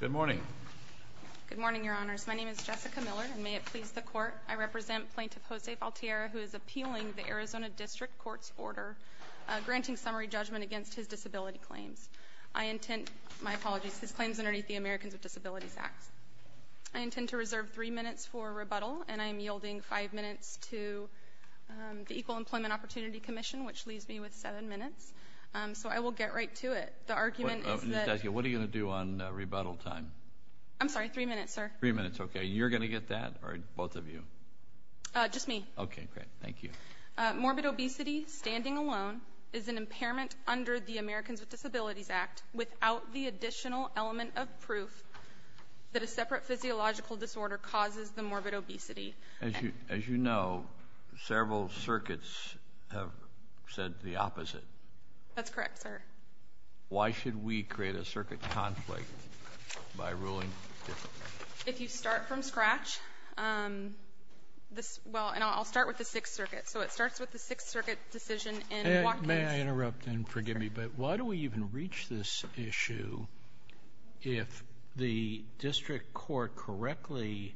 Good morning. Good morning, Your Honors. My name is Jessica Miller, and may it please the Court, I represent Plaintiff Jose Valtierra, who is appealing the Arizona District Court's order granting summary judgment against his disability claims. I intend to reserve three minutes for rebuttal, and I am yielding five minutes to the Equal Employment Opportunity Commission, which leaves me with seven minutes. So I will get right to it. The argument is that— What are you going to do on rebuttal time? I'm sorry, three minutes, sir. Three minutes, okay. You're going to get that, or both of you? Just me. Okay, great. Thank you. Morbid obesity standing alone is an impairment under the Americans with Disabilities Act without the additional element of proof that a separate physiological disorder causes the morbid obesity. As you know, several circuits have said the opposite. That's correct, sir. Why should we create a circuit conflict by ruling differently? If you start from scratch, this — well, and I'll start with the Sixth Circuit. So it starts with the Sixth Circuit decision in Watkins. May I interrupt and forgive me, but why do we even reach this issue if the district court correctly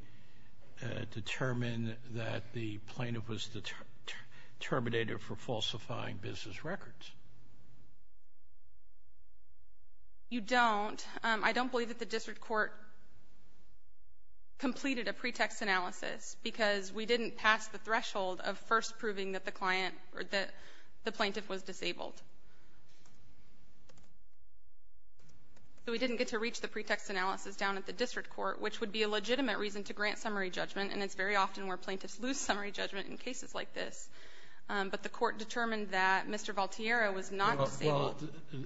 determined that the plaintiff was terminated for falsifying business records? You don't. I don't believe that the district court completed a pretext analysis because we didn't pass the threshold of first proving that the client or that the plaintiff was disabled. So we didn't get to reach the pretext analysis down at the district court, which would be a legitimate reason to grant summary judgment, and it's very often where plaintiffs lose summary judgment in cases like this. But the court determined that Mr. Valtiero was not disabled. Well,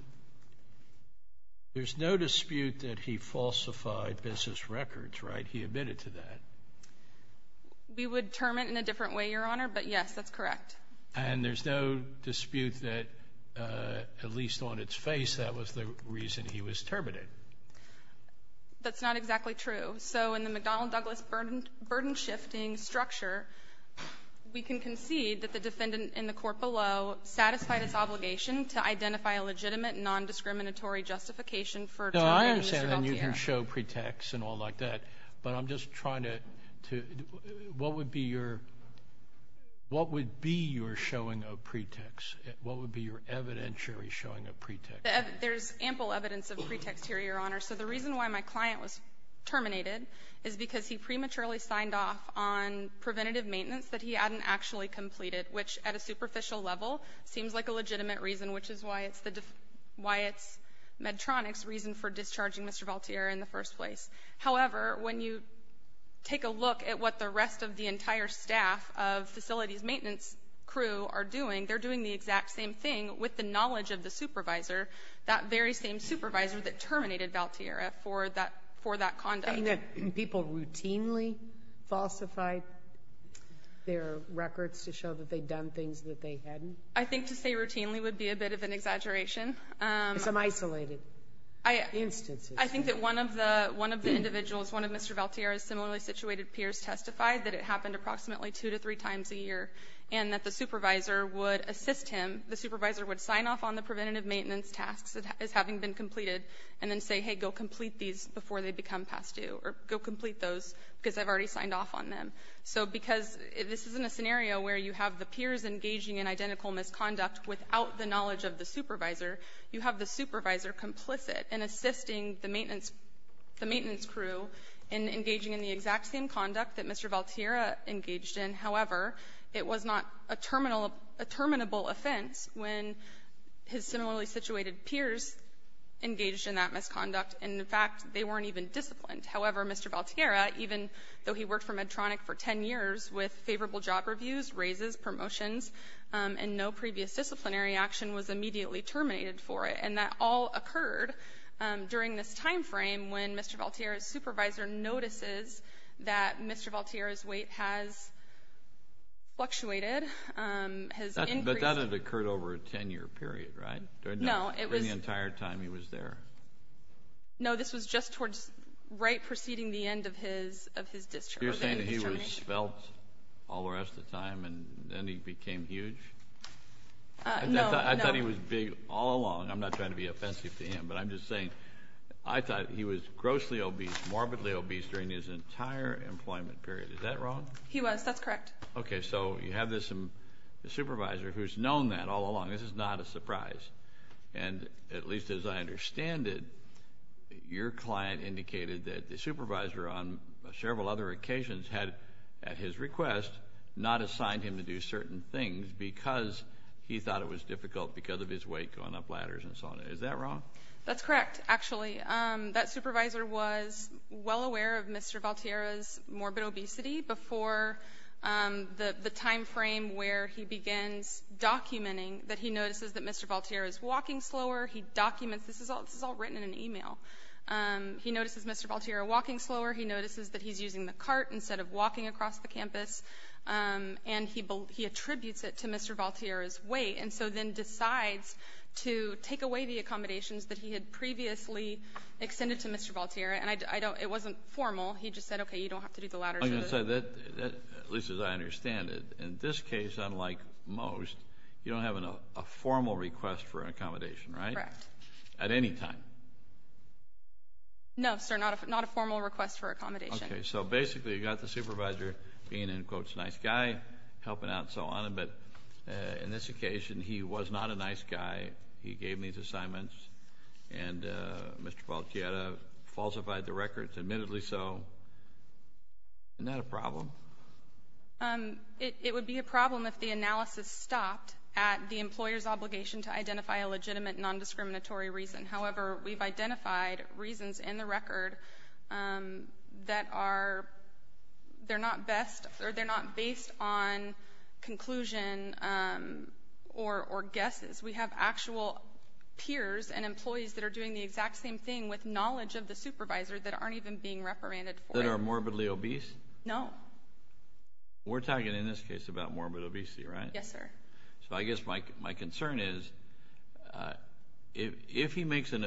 there's no dispute that he falsified business records, right? He admitted to that. We would term it in a different way, Your Honor, but yes, that's correct. And there's no dispute that, at least on its face, that was the reason he was terminated. That's not exactly true. So in the McDonnell-Douglas burden-shifting structure, we can concede that the defendant in the court below satisfied its obligation to identify a legitimate nondiscriminatory justification for terminating Mr. Valtiero. No, I understand, and you can show pretext and all like that, but I'm just trying to to what would be your what would be your showing of pretext? What would be your evidentiary showing of pretext? There's ample evidence of pretext here, Your Honor. So the reason why my client was terminated is because he prematurely signed off on preventative maintenance that he hadn't actually completed, which at a superficial level seems like a legitimate reason, which is why it's Medtronic's reason for discharging Mr. Valtiero in the first place. However, when you take a look at what the rest of the entire staff of facilities maintenance crew are doing, they're doing the exact same thing with the knowledge of the supervisor, that very same supervisor that terminated Valtiero for that for that conduct. Are you saying that people routinely falsified their records to show that they'd done things that they hadn't? I think to say routinely would be a bit of an exaggeration. Some isolated instances. I think that one of the one of the individuals, one of Mr. Valtiero's similarly situated peers testified that it happened approximately two to three times a year, and that the supervisor would assist him, the supervisor would sign off on the preventative maintenance tasks as having been completed, and then say, hey, go complete these before they become past due, or go complete those because I've already signed off on them. So because this isn't a scenario where you have the peers engaging in identical misconduct without the knowledge of the supervisor, you have the supervisor complicit in assisting the maintenance the maintenance crew in engaging in the exact same conduct that Mr. Valtiero engaged in. However, it was not a terminal a terminable offense when his similarly situated peers engaged in that misconduct, and in fact, they weren't even disciplined. However, Mr. Valtiero, even though he worked for Medtronic for ten years with favorable job reviews, raises, promotions, and no previous disciplinary action was immediately terminated for it. And that all occurred during this time frame when Mr. Valtiero's supervisor notices that Mr. Valtiero's weight has fluctuated, has increased. But that had occurred over a ten-year period, right? No, it was. During the entire time he was there? No, this was just towards right preceding the end of his discharge. You're saying that he was svelte all the rest of the time and then he became huge? No, no. I thought he was big all along. I'm not trying to be offensive to him, but I'm just saying I thought he was kind of obese during his entire employment period. Is that wrong? He was. That's correct. Okay, so you have this supervisor who's known that all along. This is not a surprise. And at least as I understand it, your client indicated that the supervisor on several other occasions had, at his request, not assigned him to do certain things because he thought it was difficult because of his weight going up ladders and so on. Is that wrong? That's correct, actually. And that supervisor was well aware of Mr. Valtierra's morbid obesity before the time frame where he begins documenting that he notices that Mr. Valtierra is walking slower. He documents this. This is all written in an email. He notices Mr. Valtierra walking slower. He notices that he's using the cart instead of walking across the campus. And he attributes it to Mr. Valtierra's weight and so then decides to take away the accommodations that he had previously extended to Mr. Valtierra. And it wasn't formal. He just said, okay, you don't have to do the ladder. At least as I understand it, in this case, unlike most, you don't have a formal request for accommodation, right? Correct. At any time? No, sir, not a formal request for accommodation. Okay, so basically you've got the supervisor being, in quotes, a nice guy, helping out and so on. But in this occasion, he was not a nice guy. He gave me his assignments and Mr. Valtierra falsified the records, admittedly so. Isn't that a problem? It would be a problem if the analysis stopped at the employer's obligation to identify a legitimate non-discriminatory reason. However, we've identified reasons in the record that are not based on conclusion or guesses. We have actual peers and employees that are doing the exact same thing with knowledge of the supervisor that aren't even being reprimanded for it. That are morbidly obese? No. We're talking, in this case, about morbid obesity, right? Yes, sir. So I guess my concern is if he makes an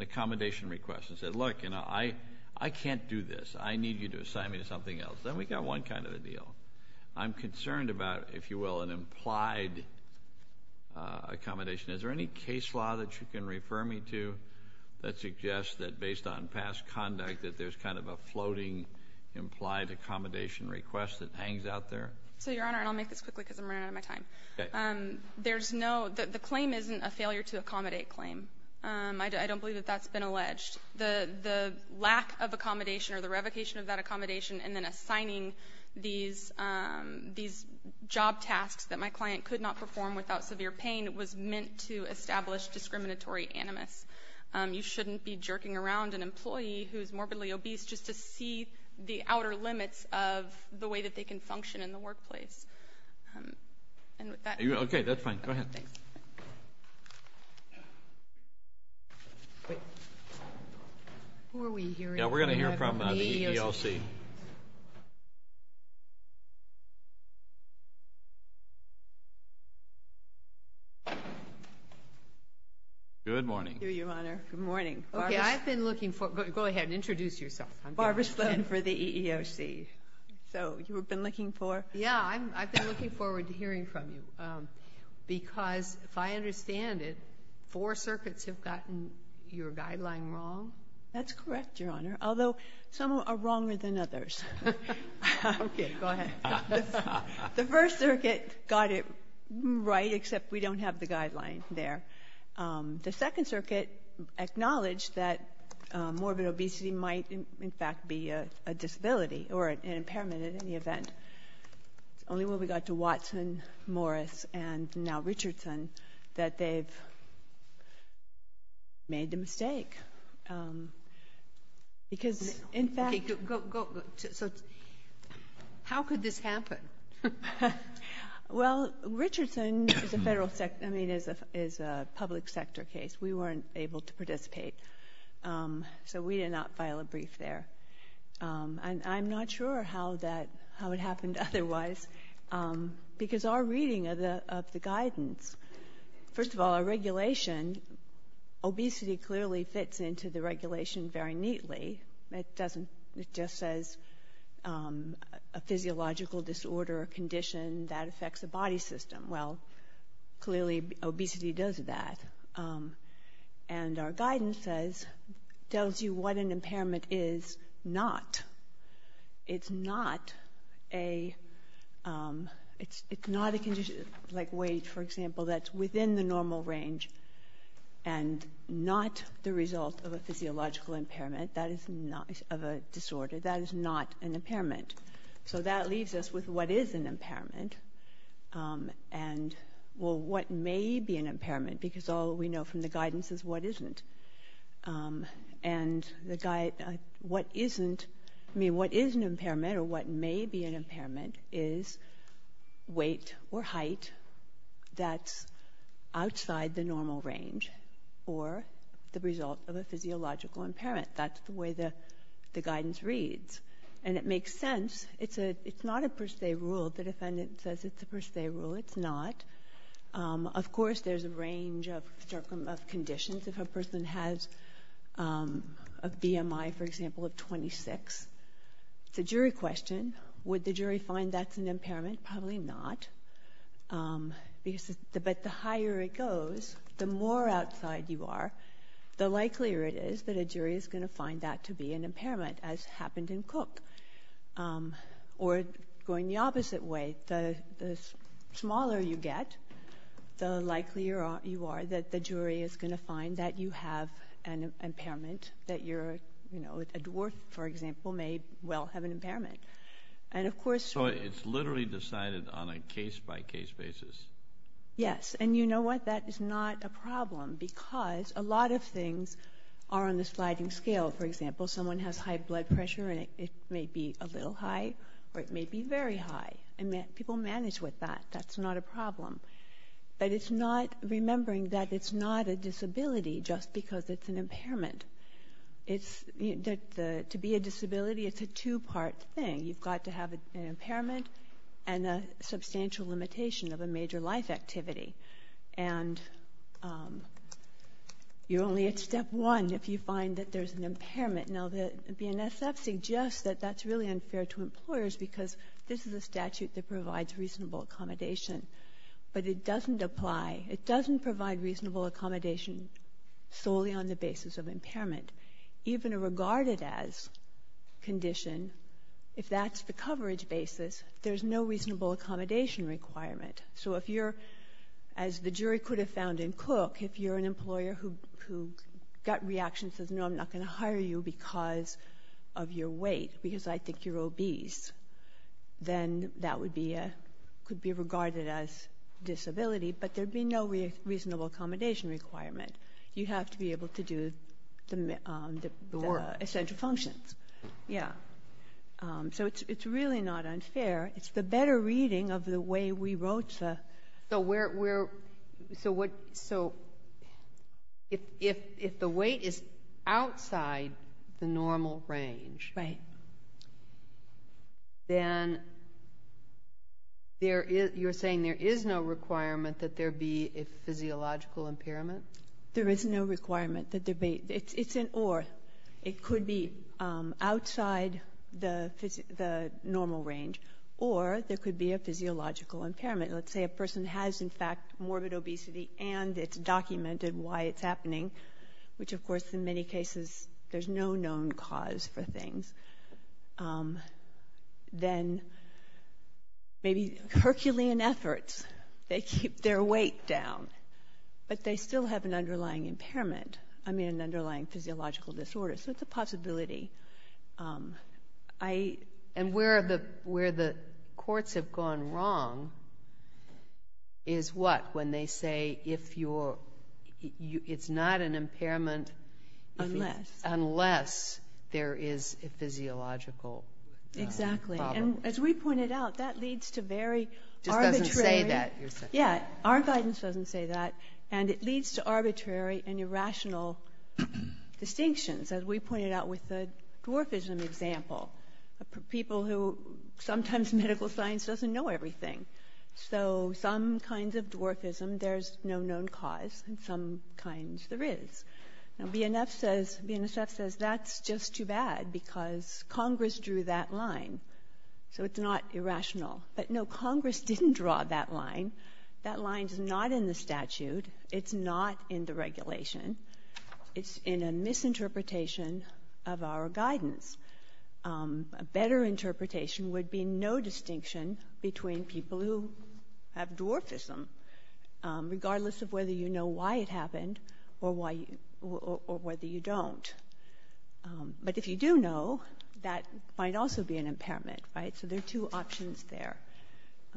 accommodation request and says, look, I can't do this. I need you to assign me to something else. Then we've got one kind of a deal. I'm concerned about, if you will, an implied accommodation. Is there any case law that you can refer me to that suggests that based on past conduct that there's kind of a floating implied accommodation request that hangs out there? So, Your Honor, and I'll make this quickly because I'm running out of my time. Okay. There's no — the claim isn't a failure-to-accommodate claim. I don't believe that that's been alleged. The lack of accommodation or the revocation of that accommodation and then assigning these job tasks that my client could not perform without severe pain was meant to establish discriminatory animus. You shouldn't be jerking around an employee who's morbidly obese just to see the outer limits of the way that they can function in the workplace. And with that — Okay, that's fine. Go ahead. Thanks. Who are we hearing from? Yeah, we're going to hear from the EEOC. Good morning. Thank you, Your Honor. Good morning. Okay, I've been looking for — go ahead and introduce yourself. Barbara Sloan for the EEOC. So you've been looking for — Yeah, I've been looking forward to hearing from you because, if I understand it, four circuits have gotten your guideline wrong? That's correct, Your Honor, although some are wronger than others. Okay, go ahead. The First Circuit got it right, except we don't have the guideline there. The Second Circuit acknowledged that morbid obesity might, in fact, be a disability or an impairment in any event. It's only when we got to Watson, Morris, and now Richardson that they've made the mistake because, in fact — Okay, go — so how could this happen? Well, Richardson is a federal — I mean, is a public sector case. We weren't able to participate, so we did not file a brief there. And I'm not sure how that — how it happened otherwise because our reading of the guidance — first of all, our regulation, obesity clearly fits into the regulation very neatly. It doesn't — it just says a physiological disorder or condition that affects the body system. Well, clearly obesity does that. And our guidance says — tells you what an impairment is not. It's not a — it's not a condition like weight, for example, that's within the normal range and not the result of a physiological impairment. That is not — of a disorder. That is not an impairment. So that leaves us with what is an impairment. And, well, what may be an impairment because all we know from the guidance is what isn't. And the — what isn't — I mean, what is an impairment or what may be an impairment is weight or height that's outside the normal range or the result of a physiological impairment. That's the way the guidance reads. And it makes sense. It's a — it's not a per se rule. The defendant says it's a per se rule. It's not. Of course, there's a range of conditions. If a person has a BMI, for example, of 26, it's a jury question. Would the jury find that's an impairment? Probably not. But the higher it goes, the more outside you are, the likelier it is that a jury is going to find that to be an impairment, as happened in Cook. Or going the opposite way, the smaller you get, the likelier you are that the jury is going to find that you have an impairment, that you're — you know, a dwarf, for example, may well have an impairment. And, of course — So it's literally decided on a case-by-case basis? Yes. And you know what? That is not a problem because a lot of things are on the sliding scale. For example, someone has high blood pressure, and it may be a little high or it may be very high. And people manage with that. That's not a problem. But it's not — remembering that it's not a disability just because it's an impairment. It's — to be a disability, it's a two-part thing. You've got to have an impairment and a substantial limitation of a major life activity. And you're only at step one if you find that there's an impairment. Now, the BNSF suggests that that's really unfair to employers because this is a statute that provides reasonable accommodation. But it doesn't apply. It doesn't provide reasonable accommodation solely on the basis of impairment. Even a regarded-as condition, if that's the coverage basis, there's no reasonable accommodation requirement. So if you're — as the jury could have found in Cook, if you're an employer who got reaction and says, no, I'm not going to hire you because of your weight, because I think you're obese, then that would be a — could be regarded as disability. But there'd be no reasonable accommodation requirement. You have to be able to do the essential functions. Yeah. So it's really not unfair. It's the better reading of the way we wrote the — So where — so what — so if the weight is outside the normal range — Right. — then there is — you're saying there is no requirement that there be a physiological impairment? There is no requirement that there be — it's an or. It could be outside the normal range, or there could be a physiological impairment. Let's say a person has, in fact, morbid obesity, and it's documented why it's happening, which, of course, in many cases, there's no known cause for things. Then maybe Herculean efforts, they keep their weight down, but they still have an underlying impairment — I mean, an underlying physiological disorder. So it's a possibility. I — And where the courts have gone wrong is what? When they say if you're — it's not an impairment — Unless. Unless there is a physiological problem. Exactly. And as we pointed out, that leads to very arbitrary — It just doesn't say that. Yeah. Our guidance doesn't say that, and it leads to arbitrary and irrational distinctions, as we pointed out with the dwarfism example, people who — sometimes medical science doesn't know everything. So some kinds of dwarfism, there's no known cause, and some kinds there is. Now, BNF says — BNSF says that's just too bad because Congress drew that line, so it's not irrational. But, no, Congress didn't draw that line. That line's not in the statute. It's not in the regulation. It's in a misinterpretation of our guidance. A better interpretation would be no distinction between people who have dwarfism, regardless of whether you know why it happened or why — or whether you don't. But if you do know, that might also be an impairment, right? So there are two options there.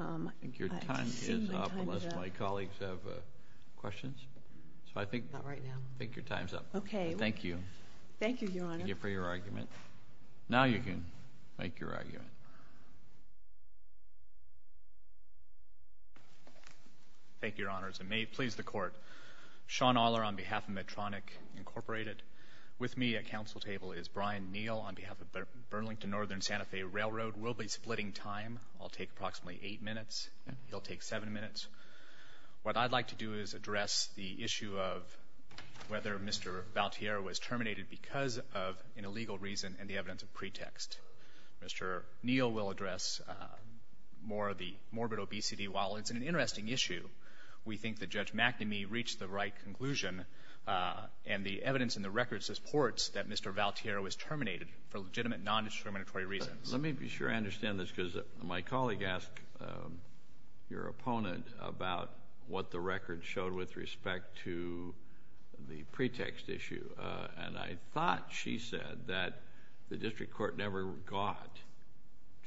I think your time is up unless my colleagues have questions. So I think — Not right now. Thank you. Thank you, Your Honor. Thank you for your argument. Now you can make your argument. Thank you, Your Honors. It may please the Court. Sean Aller on behalf of Medtronic, Incorporated. With me at council table is Brian Neal on behalf of Burlington Northern Santa Fe Railroad. We'll be splitting time. I'll take approximately eight minutes. He'll take seven minutes. What I'd like to do is address the issue of whether Mr. Valtiero was terminated because of an illegal reason and the evidence of pretext. Mr. Neal will address more of the morbid obesity. While it's an interesting issue, we think that Judge McNamee reached the right conclusion and the evidence in the records supports that Mr. Valtiero was terminated for legitimate, nondiscriminatory reasons. Let me be sure I understand this because my colleague asked your opponent about what the record showed with respect to the pretext issue. And I thought she said that the district court never got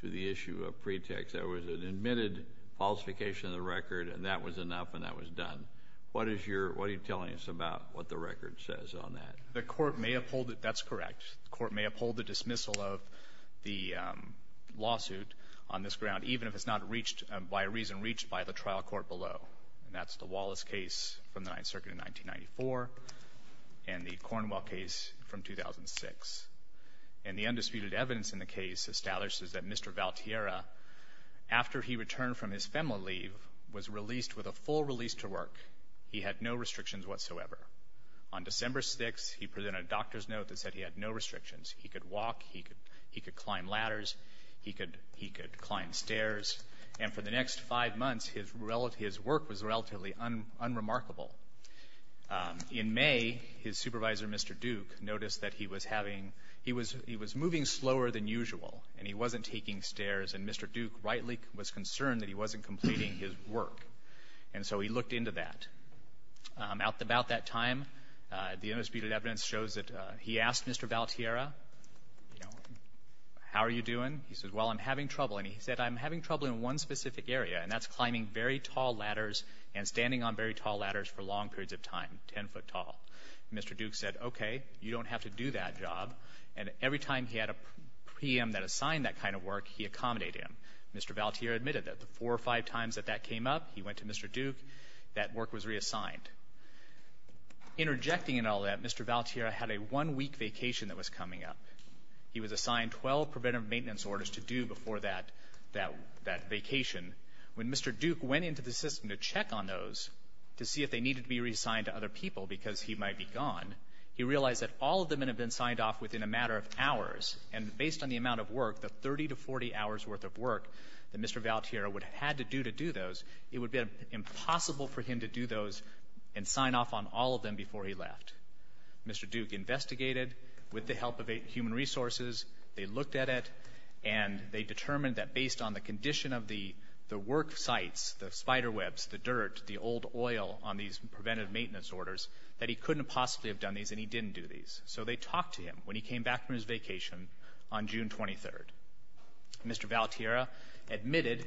to the issue of pretext. There was an admitted falsification of the record, and that was enough, and that was done. What is your — what are you telling us about what the record says on that? The court may uphold it. That's correct. The court may uphold the dismissal of the lawsuit on this ground, even if it's not reached by a reason reached by the trial court below. And that's the Wallace case from the Ninth Circuit in 1994 and the Cornwell case from 2006. And the undisputed evidence in the case establishes that Mr. Valtiero, after he returned from his FEMLA leave, was released with a full release to work. He had no restrictions whatsoever. On December 6th, he presented a doctor's note that said he had no restrictions. He could walk. He could climb ladders. He could climb stairs. And for the next five months, his work was relatively unremarkable. In May, his supervisor, Mr. Duke, noticed that he was having — he was moving slower than usual, and he wasn't taking stairs, and Mr. Duke rightly was concerned that he wasn't completing his work. And so he looked into that. At about that time, the undisputed evidence shows that he asked Mr. Valtiero, you know, how are you doing? He says, well, I'm having trouble. And he said, I'm having trouble in one specific area, and that's climbing very tall ladders and standing on very tall ladders for long periods of time, 10 foot tall. Mr. Duke said, okay, you don't have to do that job. And every time he had a preem that assigned that kind of work, he accommodated him. Mr. Valtiero admitted that the four or five times that that came up, he went to Mr. Interjecting in all that, Mr. Valtiero had a one-week vacation that was coming up. He was assigned 12 preventive maintenance orders to do before that vacation. When Mr. Duke went into the system to check on those to see if they needed to be reassigned to other people because he might be gone, he realized that all of them had been signed off within a matter of hours, and based on the amount of work, the 30 to 40 hours' worth of work that Mr. Valtiero would have had to do to do those, it would have been impossible for him to do those and sign off on all of them before he left. Mr. Duke investigated with the help of human resources. They looked at it, and they determined that based on the condition of the work sites, the spiderwebs, the dirt, the old oil on these preventive maintenance orders, that he couldn't possibly have done these, and he didn't do these. So they talked to him when he came back from his vacation on June 23rd. Mr. Valtiero admitted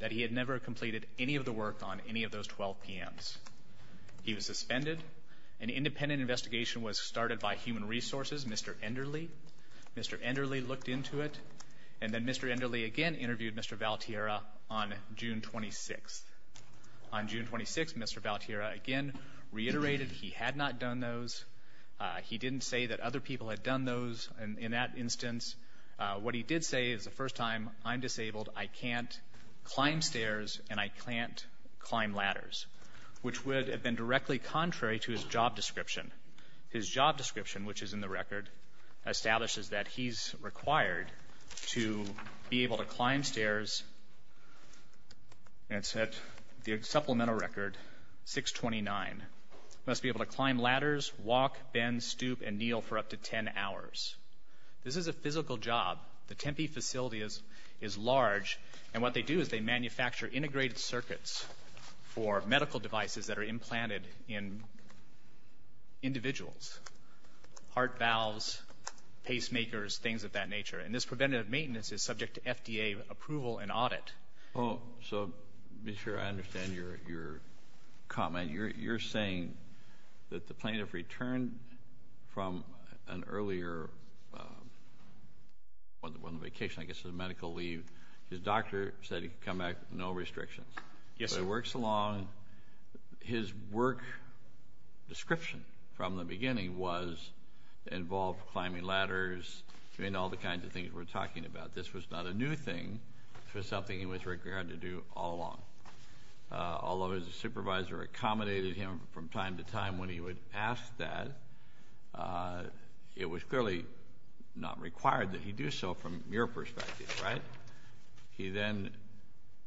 that he had never completed any of the work on any of those 12 PMs. He was suspended. An independent investigation was started by human resources, Mr. Enderle. Mr. Enderle looked into it, and then Mr. Enderle again interviewed Mr. Valtiero on June 26th. On June 26th, Mr. Valtiero again reiterated he had not done those. He didn't say that other people had done those in that instance. What he did say is the first time I'm disabled, I can't climb stairs and I can't climb ladders, which would have been directly contrary to his job description. His job description, which is in the record, establishes that he's required to be able to climb stairs, and it's at the supplemental record, 629. Must be able to climb ladders, walk, bend, stoop, and kneel for up to 10 hours. This is a physical job. The Tempe facility is large, and what they do is they manufacture integrated circuits for medical devices that are implanted in individuals, heart valves, pacemakers, things of that nature. And this preventative maintenance is subject to FDA approval and audit. So, Mr. Chair, I understand your comment. You're saying that the plaintiff returned from an earlier vacation, I guess it was a medical leave. His doctor said he could come back with no restrictions. Yes, sir. So he works along. His work description from the beginning involved climbing ladders and all the kinds of things we're talking about. This was not a new thing. This was something he was required to do all along. Although his supervisor accommodated him from time to time when he would ask that, it was clearly not required that he do so from your perspective, right? He then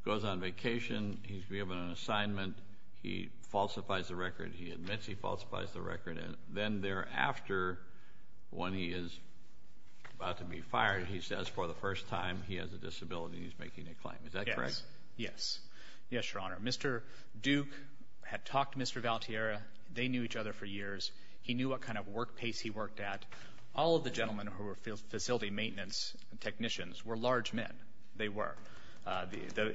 goes on vacation. He's given an assignment. He admits he falsifies the record. Then thereafter, when he is about to be fired, he says for the first time he has a disability and he's making a claim. Is that correct? Yes. Yes, Your Honor. Mr. Duke had talked to Mr. Valtierra. They knew each other for years. He knew what kind of work pace he worked at. All of the gentlemen who were facility maintenance technicians were large men. They were.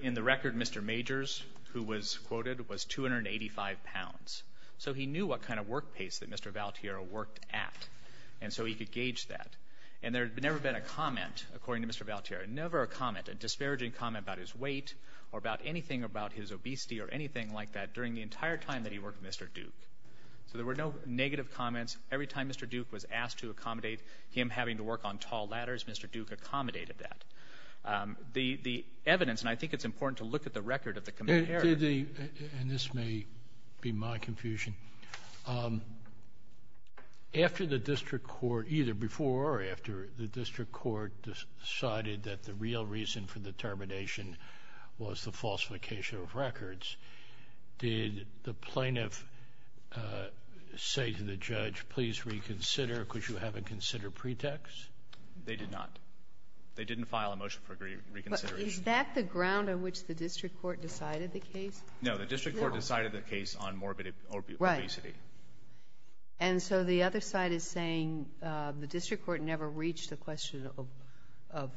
In the record, Mr. Majors, who was quoted, was 285 pounds. So he knew what kind of work pace that Mr. Valtierra worked at. And so he could gauge that. And there had never been a comment, according to Mr. Valtierra, never a comment, a disparaging comment about his weight or about anything about his obesity or anything like that during the entire time that he worked at Mr. Duke. So there were no negative comments. Every time Mr. Duke was asked to accommodate him having to work on tall ladders, Mr. Duke accommodated that. The evidence, and I think it's important to look at the record of the commitment And this may be my confusion. After the district court, either before or after the district court decided that the real reason for the termination was the falsification of records, did the plaintiff say to the judge, please reconsider because you haven't considered pretext? They did not. They didn't file a motion for reconsideration. But is that the ground on which the district court decided the case? No. The district court decided the case on morbid obesity. Right. And so the other side is saying the district court never reached a question of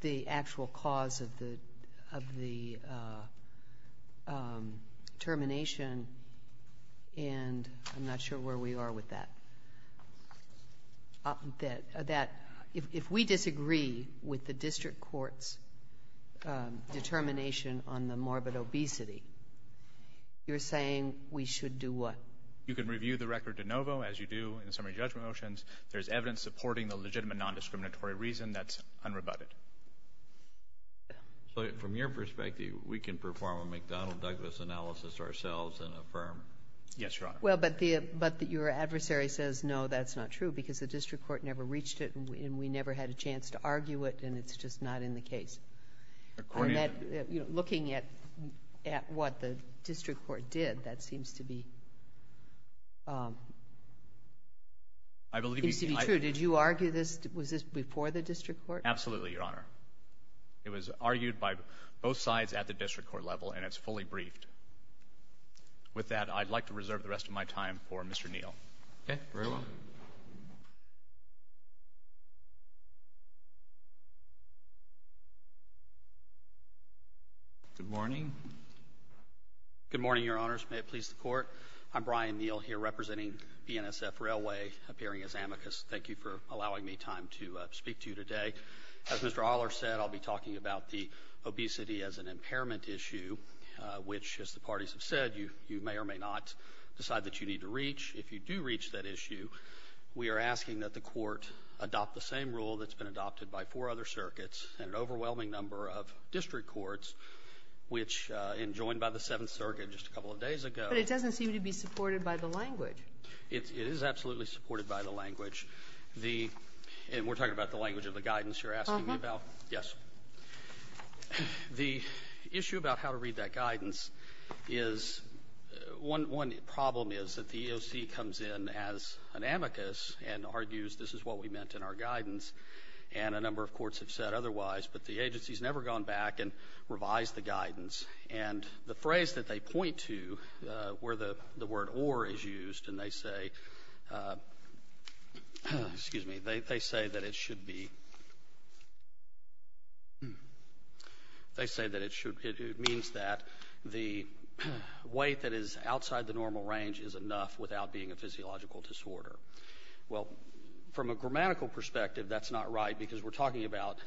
the actual cause of the termination, and I'm not sure where we are with that. That if we disagree with the district court's determination on the morbid obesity, you're saying we should do what? You can review the record de novo, as you do in summary judgment motions. There's evidence supporting the legitimate nondiscriminatory reason. That's unrebutted. So from your perspective, we can perform a McDonnell-Douglas analysis ourselves and affirm. Yes, Your Honor. Well, but your adversary says, no, that's not true because the district court never reached it, and we never had a chance to argue it, and it's just not in the case. According to the ---- Looking at what the district court did, that seems to be true. Did you argue this? Was this before the district court? Absolutely, Your Honor. It was argued by both sides at the district court level, and it's fully briefed. With that, I'd like to reserve the rest of my time for Mr. Neal. Okay. Very well. Good morning. Good morning, Your Honors. May it please the Court. I'm Brian Neal here representing BNSF Railway, appearing as amicus. Thank you for allowing me time to speak to you today. As Mr. Ahler said, I'll be talking about the obesity as an impairment issue, which, as the parties have said, you may or may not decide that you need to reach. If you do reach that issue, we are asking that the Court adopt the same rule that's been adopted by four other circuits and an overwhelming number of district courts, which, enjoined by the Seventh Circuit just a couple of days ago ---- But it doesn't seem to be supported by the language. It is absolutely supported by the language. The ---- and we're talking about the language of the guidance you're asking me about. Uh-huh. The issue about how to read that guidance is one problem is that the EOC comes in as an amicus and argues this is what we meant in our guidance, and a number of courts have said otherwise. But the agency has never gone back and revised the guidance. And the phrase that they point to where the word or is used, and they say, excuse me, they say that it should be, they say that it should, it means that the weight that is outside the normal range is enough without being a physiological disorder. Well, from a grammatical perspective, that's not right because we're talking about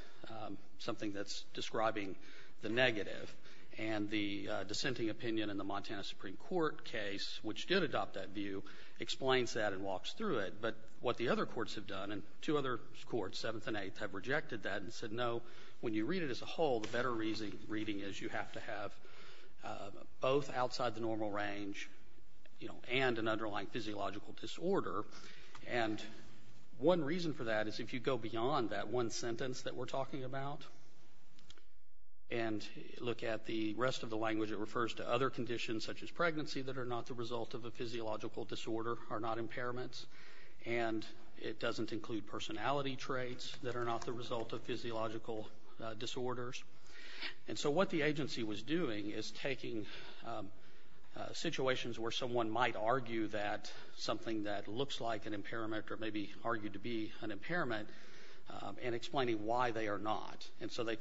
something that's describing the negative. And the dissenting opinion in the Montana Supreme Court case, which did adopt that view, explains that and walks through it. But what the other courts have done, and two other courts, Seventh and Eighth, have rejected that and said no, when you read it as a whole, the better reading is you have to have both outside the normal range, you know, and an underlying physiological disorder. And one reason for that is if you go beyond that one sentence that we're talking about and look at the rest of the conditions such as pregnancy that are not the result of a physiological disorder are not impairments. And it doesn't include personality traits that are not the result of physiological disorders. And so what the agency was doing is taking situations where someone might argue that something that looks like an impairment or maybe argued to be an impairment and explaining why they are not. And so they are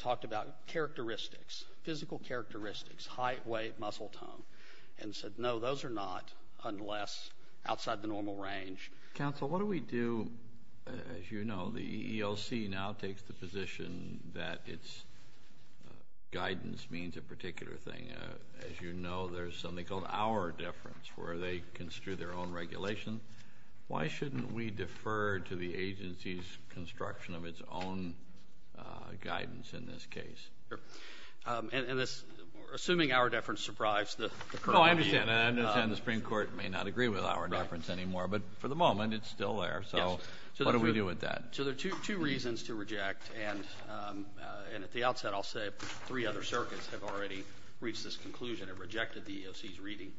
not unless outside the normal range. Counsel, what do we do, as you know, the EEOC now takes the position that its guidance means a particular thing. As you know, there's something called our deference where they construe their own regulation. Why shouldn't we defer to the agency's construction of its own guidance in this case? Assuming our deference surprised the Court. No, I understand. I understand the Supreme Court may not agree with our deference anymore. But for the moment, it's still there. So what do we do with that? So there are two reasons to reject. And at the outset, I'll say three other circuits have already reached this conclusion. It rejected the EEOC's reading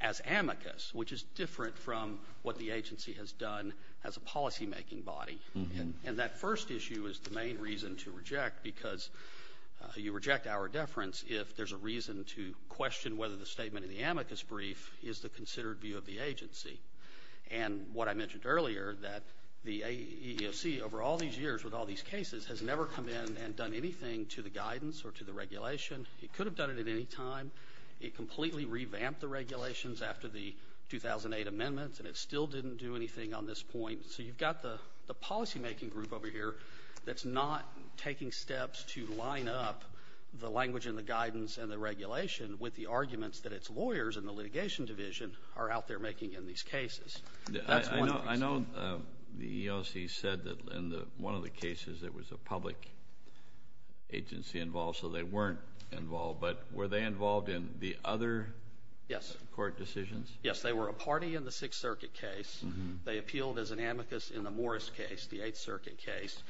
as amicus, which is different from what the agency has done as a policymaking body. And that first issue is the main reason to reject, because you reject our deference if there's a reason to question whether the statement in the amicus brief is the considered view of the agency. And what I mentioned earlier, that the EEOC over all these years with all these cases has never come in and done anything to the guidance or to the regulation. It could have done it at any time. It completely revamped the regulations after the 2008 amendments, and it still didn't do anything on this point. So you've got the policymaking group over here that's not taking steps to line up the language and the guidance and the regulation with the arguments that its lawyers in the litigation division are out there making in these cases. That's one of the reasons. I know the EEOC said that in one of the cases there was a public agency involved, so they weren't involved. But were they involved in the other court decisions? Yes. They were a party in the Sixth Circuit case. They appealed as an amicus in the Morris case, the Eighth Circuit case.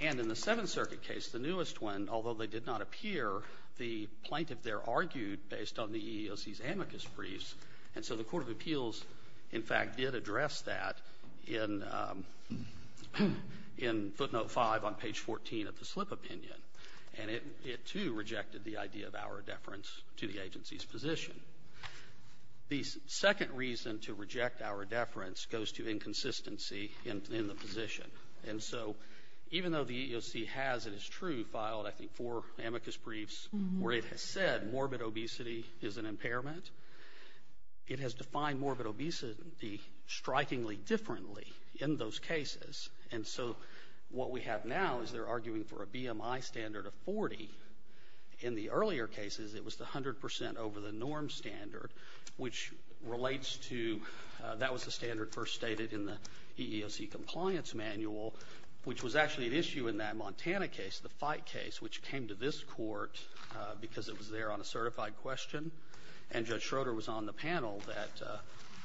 And in the Seventh Circuit case, the newest one, although they did not appear, the plaintiff there argued based on the EEOC's amicus briefs. And so the court of appeals, in fact, did address that in footnote 5 on page 14 of the slip opinion. And it, too, rejected the idea of our deference to the agency's position. The second reason to reject our deference goes to inconsistency in the position. And so even though the EEOC has, it is true, filed, I think, four amicus briefs where it has said morbid obesity is an impairment, it has defined morbid obesity strikingly differently in those cases. And so what we have now is they're the norm standard, which relates to, that was the standard first stated in the EEOC compliance manual, which was actually an issue in that Montana case, the fight case, which came to this court because it was there on a certified question. And Judge Schroeder was on the panel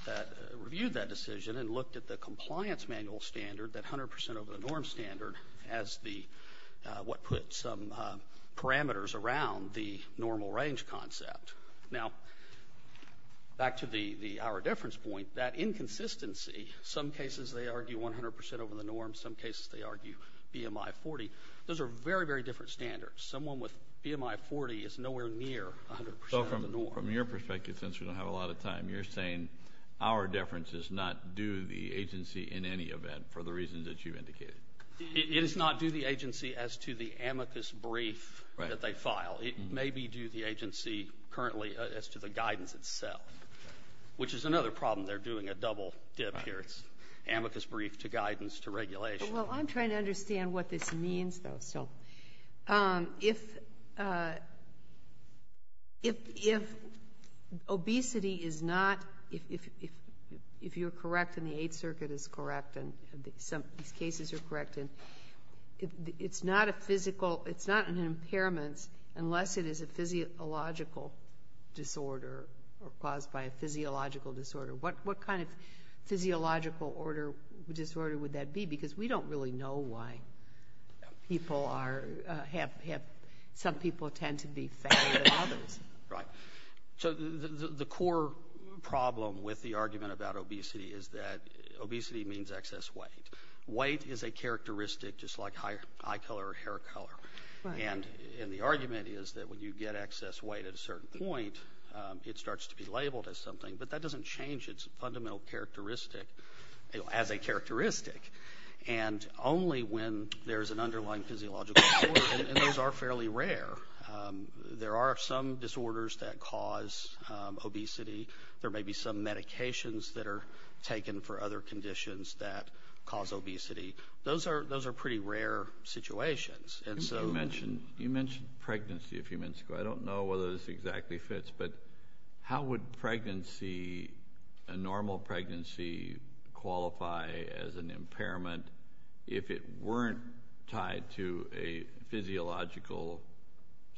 that reviewed that decision and looked at the compliance manual standard, that 100 percent over the norm standard, as the, what put some parameters around the normal range concept. Now, back to the our deference point, that inconsistency, some cases they argue 100 percent over the norm, some cases they argue BMI 40, those are very, very different standards. Someone with BMI 40 is not doing the agency as to the amicus brief that they file. It may be due the agency currently as to the guidance itself, which is another problem. They're doing a double dip here. It's amicus brief to guidance to regulation. Well, I'm trying to understand what this means, though. So if obesity is not, if you're correct and the Eighth Circuit is correct and these cases are correct, and it's not a physical, it's not an impairment unless it is a physiological disorder or caused by a physiological disorder. What kind of physiological disorder would that be? Because we don't really know why people are, have, some people tend to be fatter than others. Right. So the core problem with the argument about obesity is that obesity means excess weight. Weight is a characteristic just like eye color or hair color. And the argument is that when you get excess weight at a certain point, it starts to be labeled as something, but that doesn't change its fundamental characteristic as a characteristic. And only when there's an underlying physiological disorder, and those are fairly rare. There are some disorders that cause obesity. There may be some medications that are taken for other conditions that cause obesity. Those are pretty rare situations. You mentioned pregnancy a few minutes ago. I don't know whether this exactly fits, but how would pregnancy, a normal pregnancy, qualify as an impairment if it weren't tied to a physiological,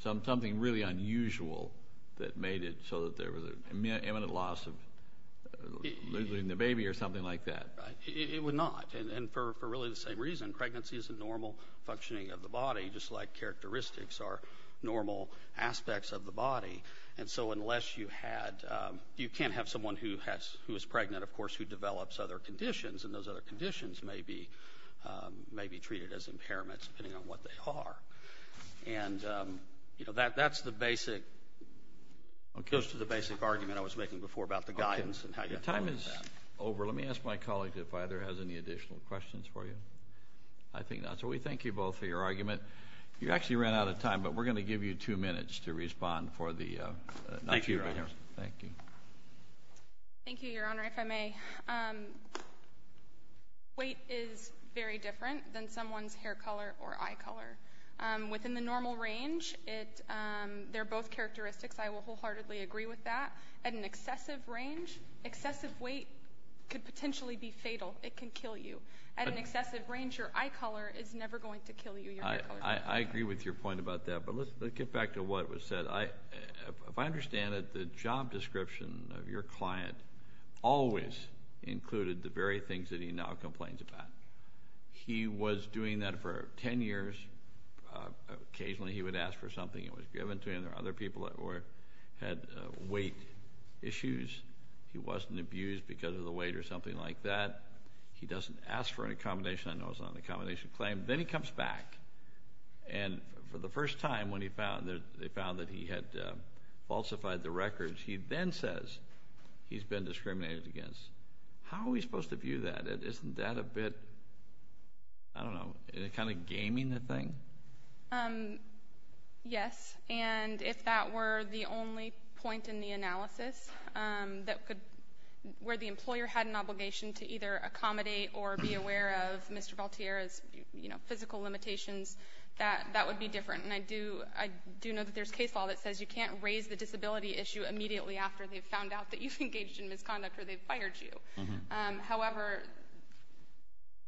something really unusual that made it so that there was an imminent loss of losing the baby or something like that? It would not. And for really the same reason. Pregnancy is a normal functioning of the body, just like characteristics are normal aspects of the body. And so unless you had, you can't have someone who has, who is pregnant, of course, who develops other conditions, and those other conditions may be treated as impairments depending on what they are. And, you know, that's the basic, goes to the basic argument I was making before about the guidance and how you have to look at that. Your time is over. Let me ask my colleague if either has any additional questions for you. I think not. So we thank you both for your argument. You actually ran out of time, but we're going to give you two minutes to respond for the next few minutes. Thank you, Your Honor. Thank you. Thank you, Your Honor, if I may. Weight is very different than someone's hair color or eye color. Within the normal range, they're both characteristics. I will wholeheartedly agree with that. At an excessive range, excessive weight could potentially be fatal. It can kill you. At an excessive range, your eye color is never going to kill you. I agree with your point about that, but let's get back to what was said. If I understand it, the job description of your client always included the very things that he now complains about. He was doing that for 10 years. Occasionally he would ask for something that was given to him. There were other people that had weight issues. He wasn't abused because of the weight or something like that. He doesn't ask for an accommodation. I know it's not an accommodation claim. Then he comes back, and for the first time when they found that he had falsified the records, he then says he's been discriminated against. How are we supposed to view that? Isn't that a bit, I don't know, kind of gaming the thing? Yes, and if that were the only point in the analysis where the employer had an obligation to either accommodate or be aware of Mr. Valtierra's physical limitations, that would be different. I do know that there's case law that says you can't raise the disability issue immediately after they've found out that you've engaged in misconduct or they've fired you. However,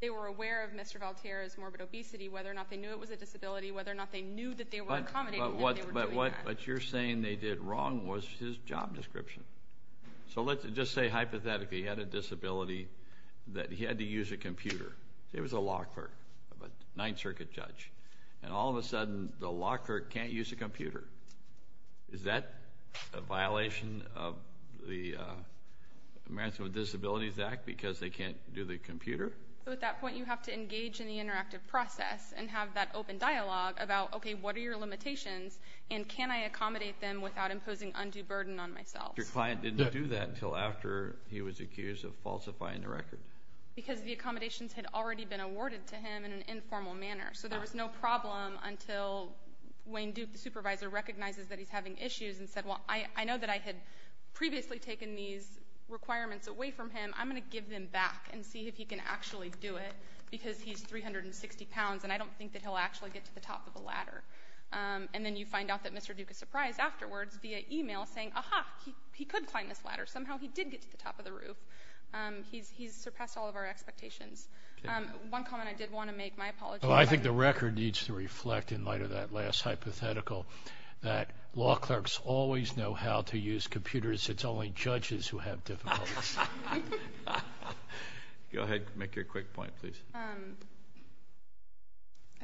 they were aware of Mr. Valtierra's morbid obesity, whether or not they knew it was a disability, whether or not they knew that they were accommodating him. But what you're saying they did wrong was his job description. So let's just say hypothetically he had a disability that he had to use a computer. Say it was a law clerk, a Ninth Circuit judge, and all of a sudden the law clerk can't use a computer. Is that a violation of the Americans with Disabilities Act because they can't do the computer? So at that point you have to engage in the interactive process and have that open dialogue about, okay, what are your limitations, and can I accommodate them without imposing undue burden on myself? Your client didn't do that until after he was accused of falsifying the record. Because the accommodations had already been awarded to him in an informal manner. So there was no problem until Wayne Duke, the supervisor, recognizes that he's having issues and said, well, I know that I had previously taken these requirements away from him. I'm going to give them back and see if he can actually do it because he's 360 pounds, and I don't think that he'll actually get to the top of the ladder. And then you find out that Mr. Duke is surprised afterwards via e-mail saying, aha, he could climb this ladder. Somehow he did get to the top of the roof. He's surpassed all of our expectations. One comment I did want to make, my apologies. Well, I think the record needs to reflect in light of that last hypothetical that law clerks always know how to use computers. It's only judges who have difficulties. Go ahead. Make your quick point, please. I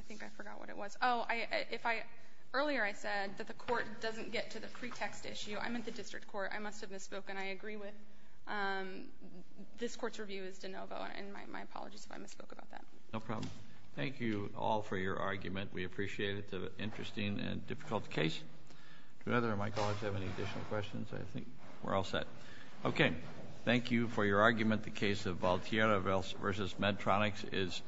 think I forgot what it was. Oh, earlier I said that the court doesn't get to the pretext issue. I meant the district court. I must have misspoken. I agree with this court's review is de novo, and my apologies if I misspoke about that. No problem. Thank you all for your argument. We appreciate it. It's an interesting and difficult case. Do either of my colleagues have any additional questions? I think we're all set. Okay. Thank you for your argument. The case of Valtierra v. Medtronics is adjourned.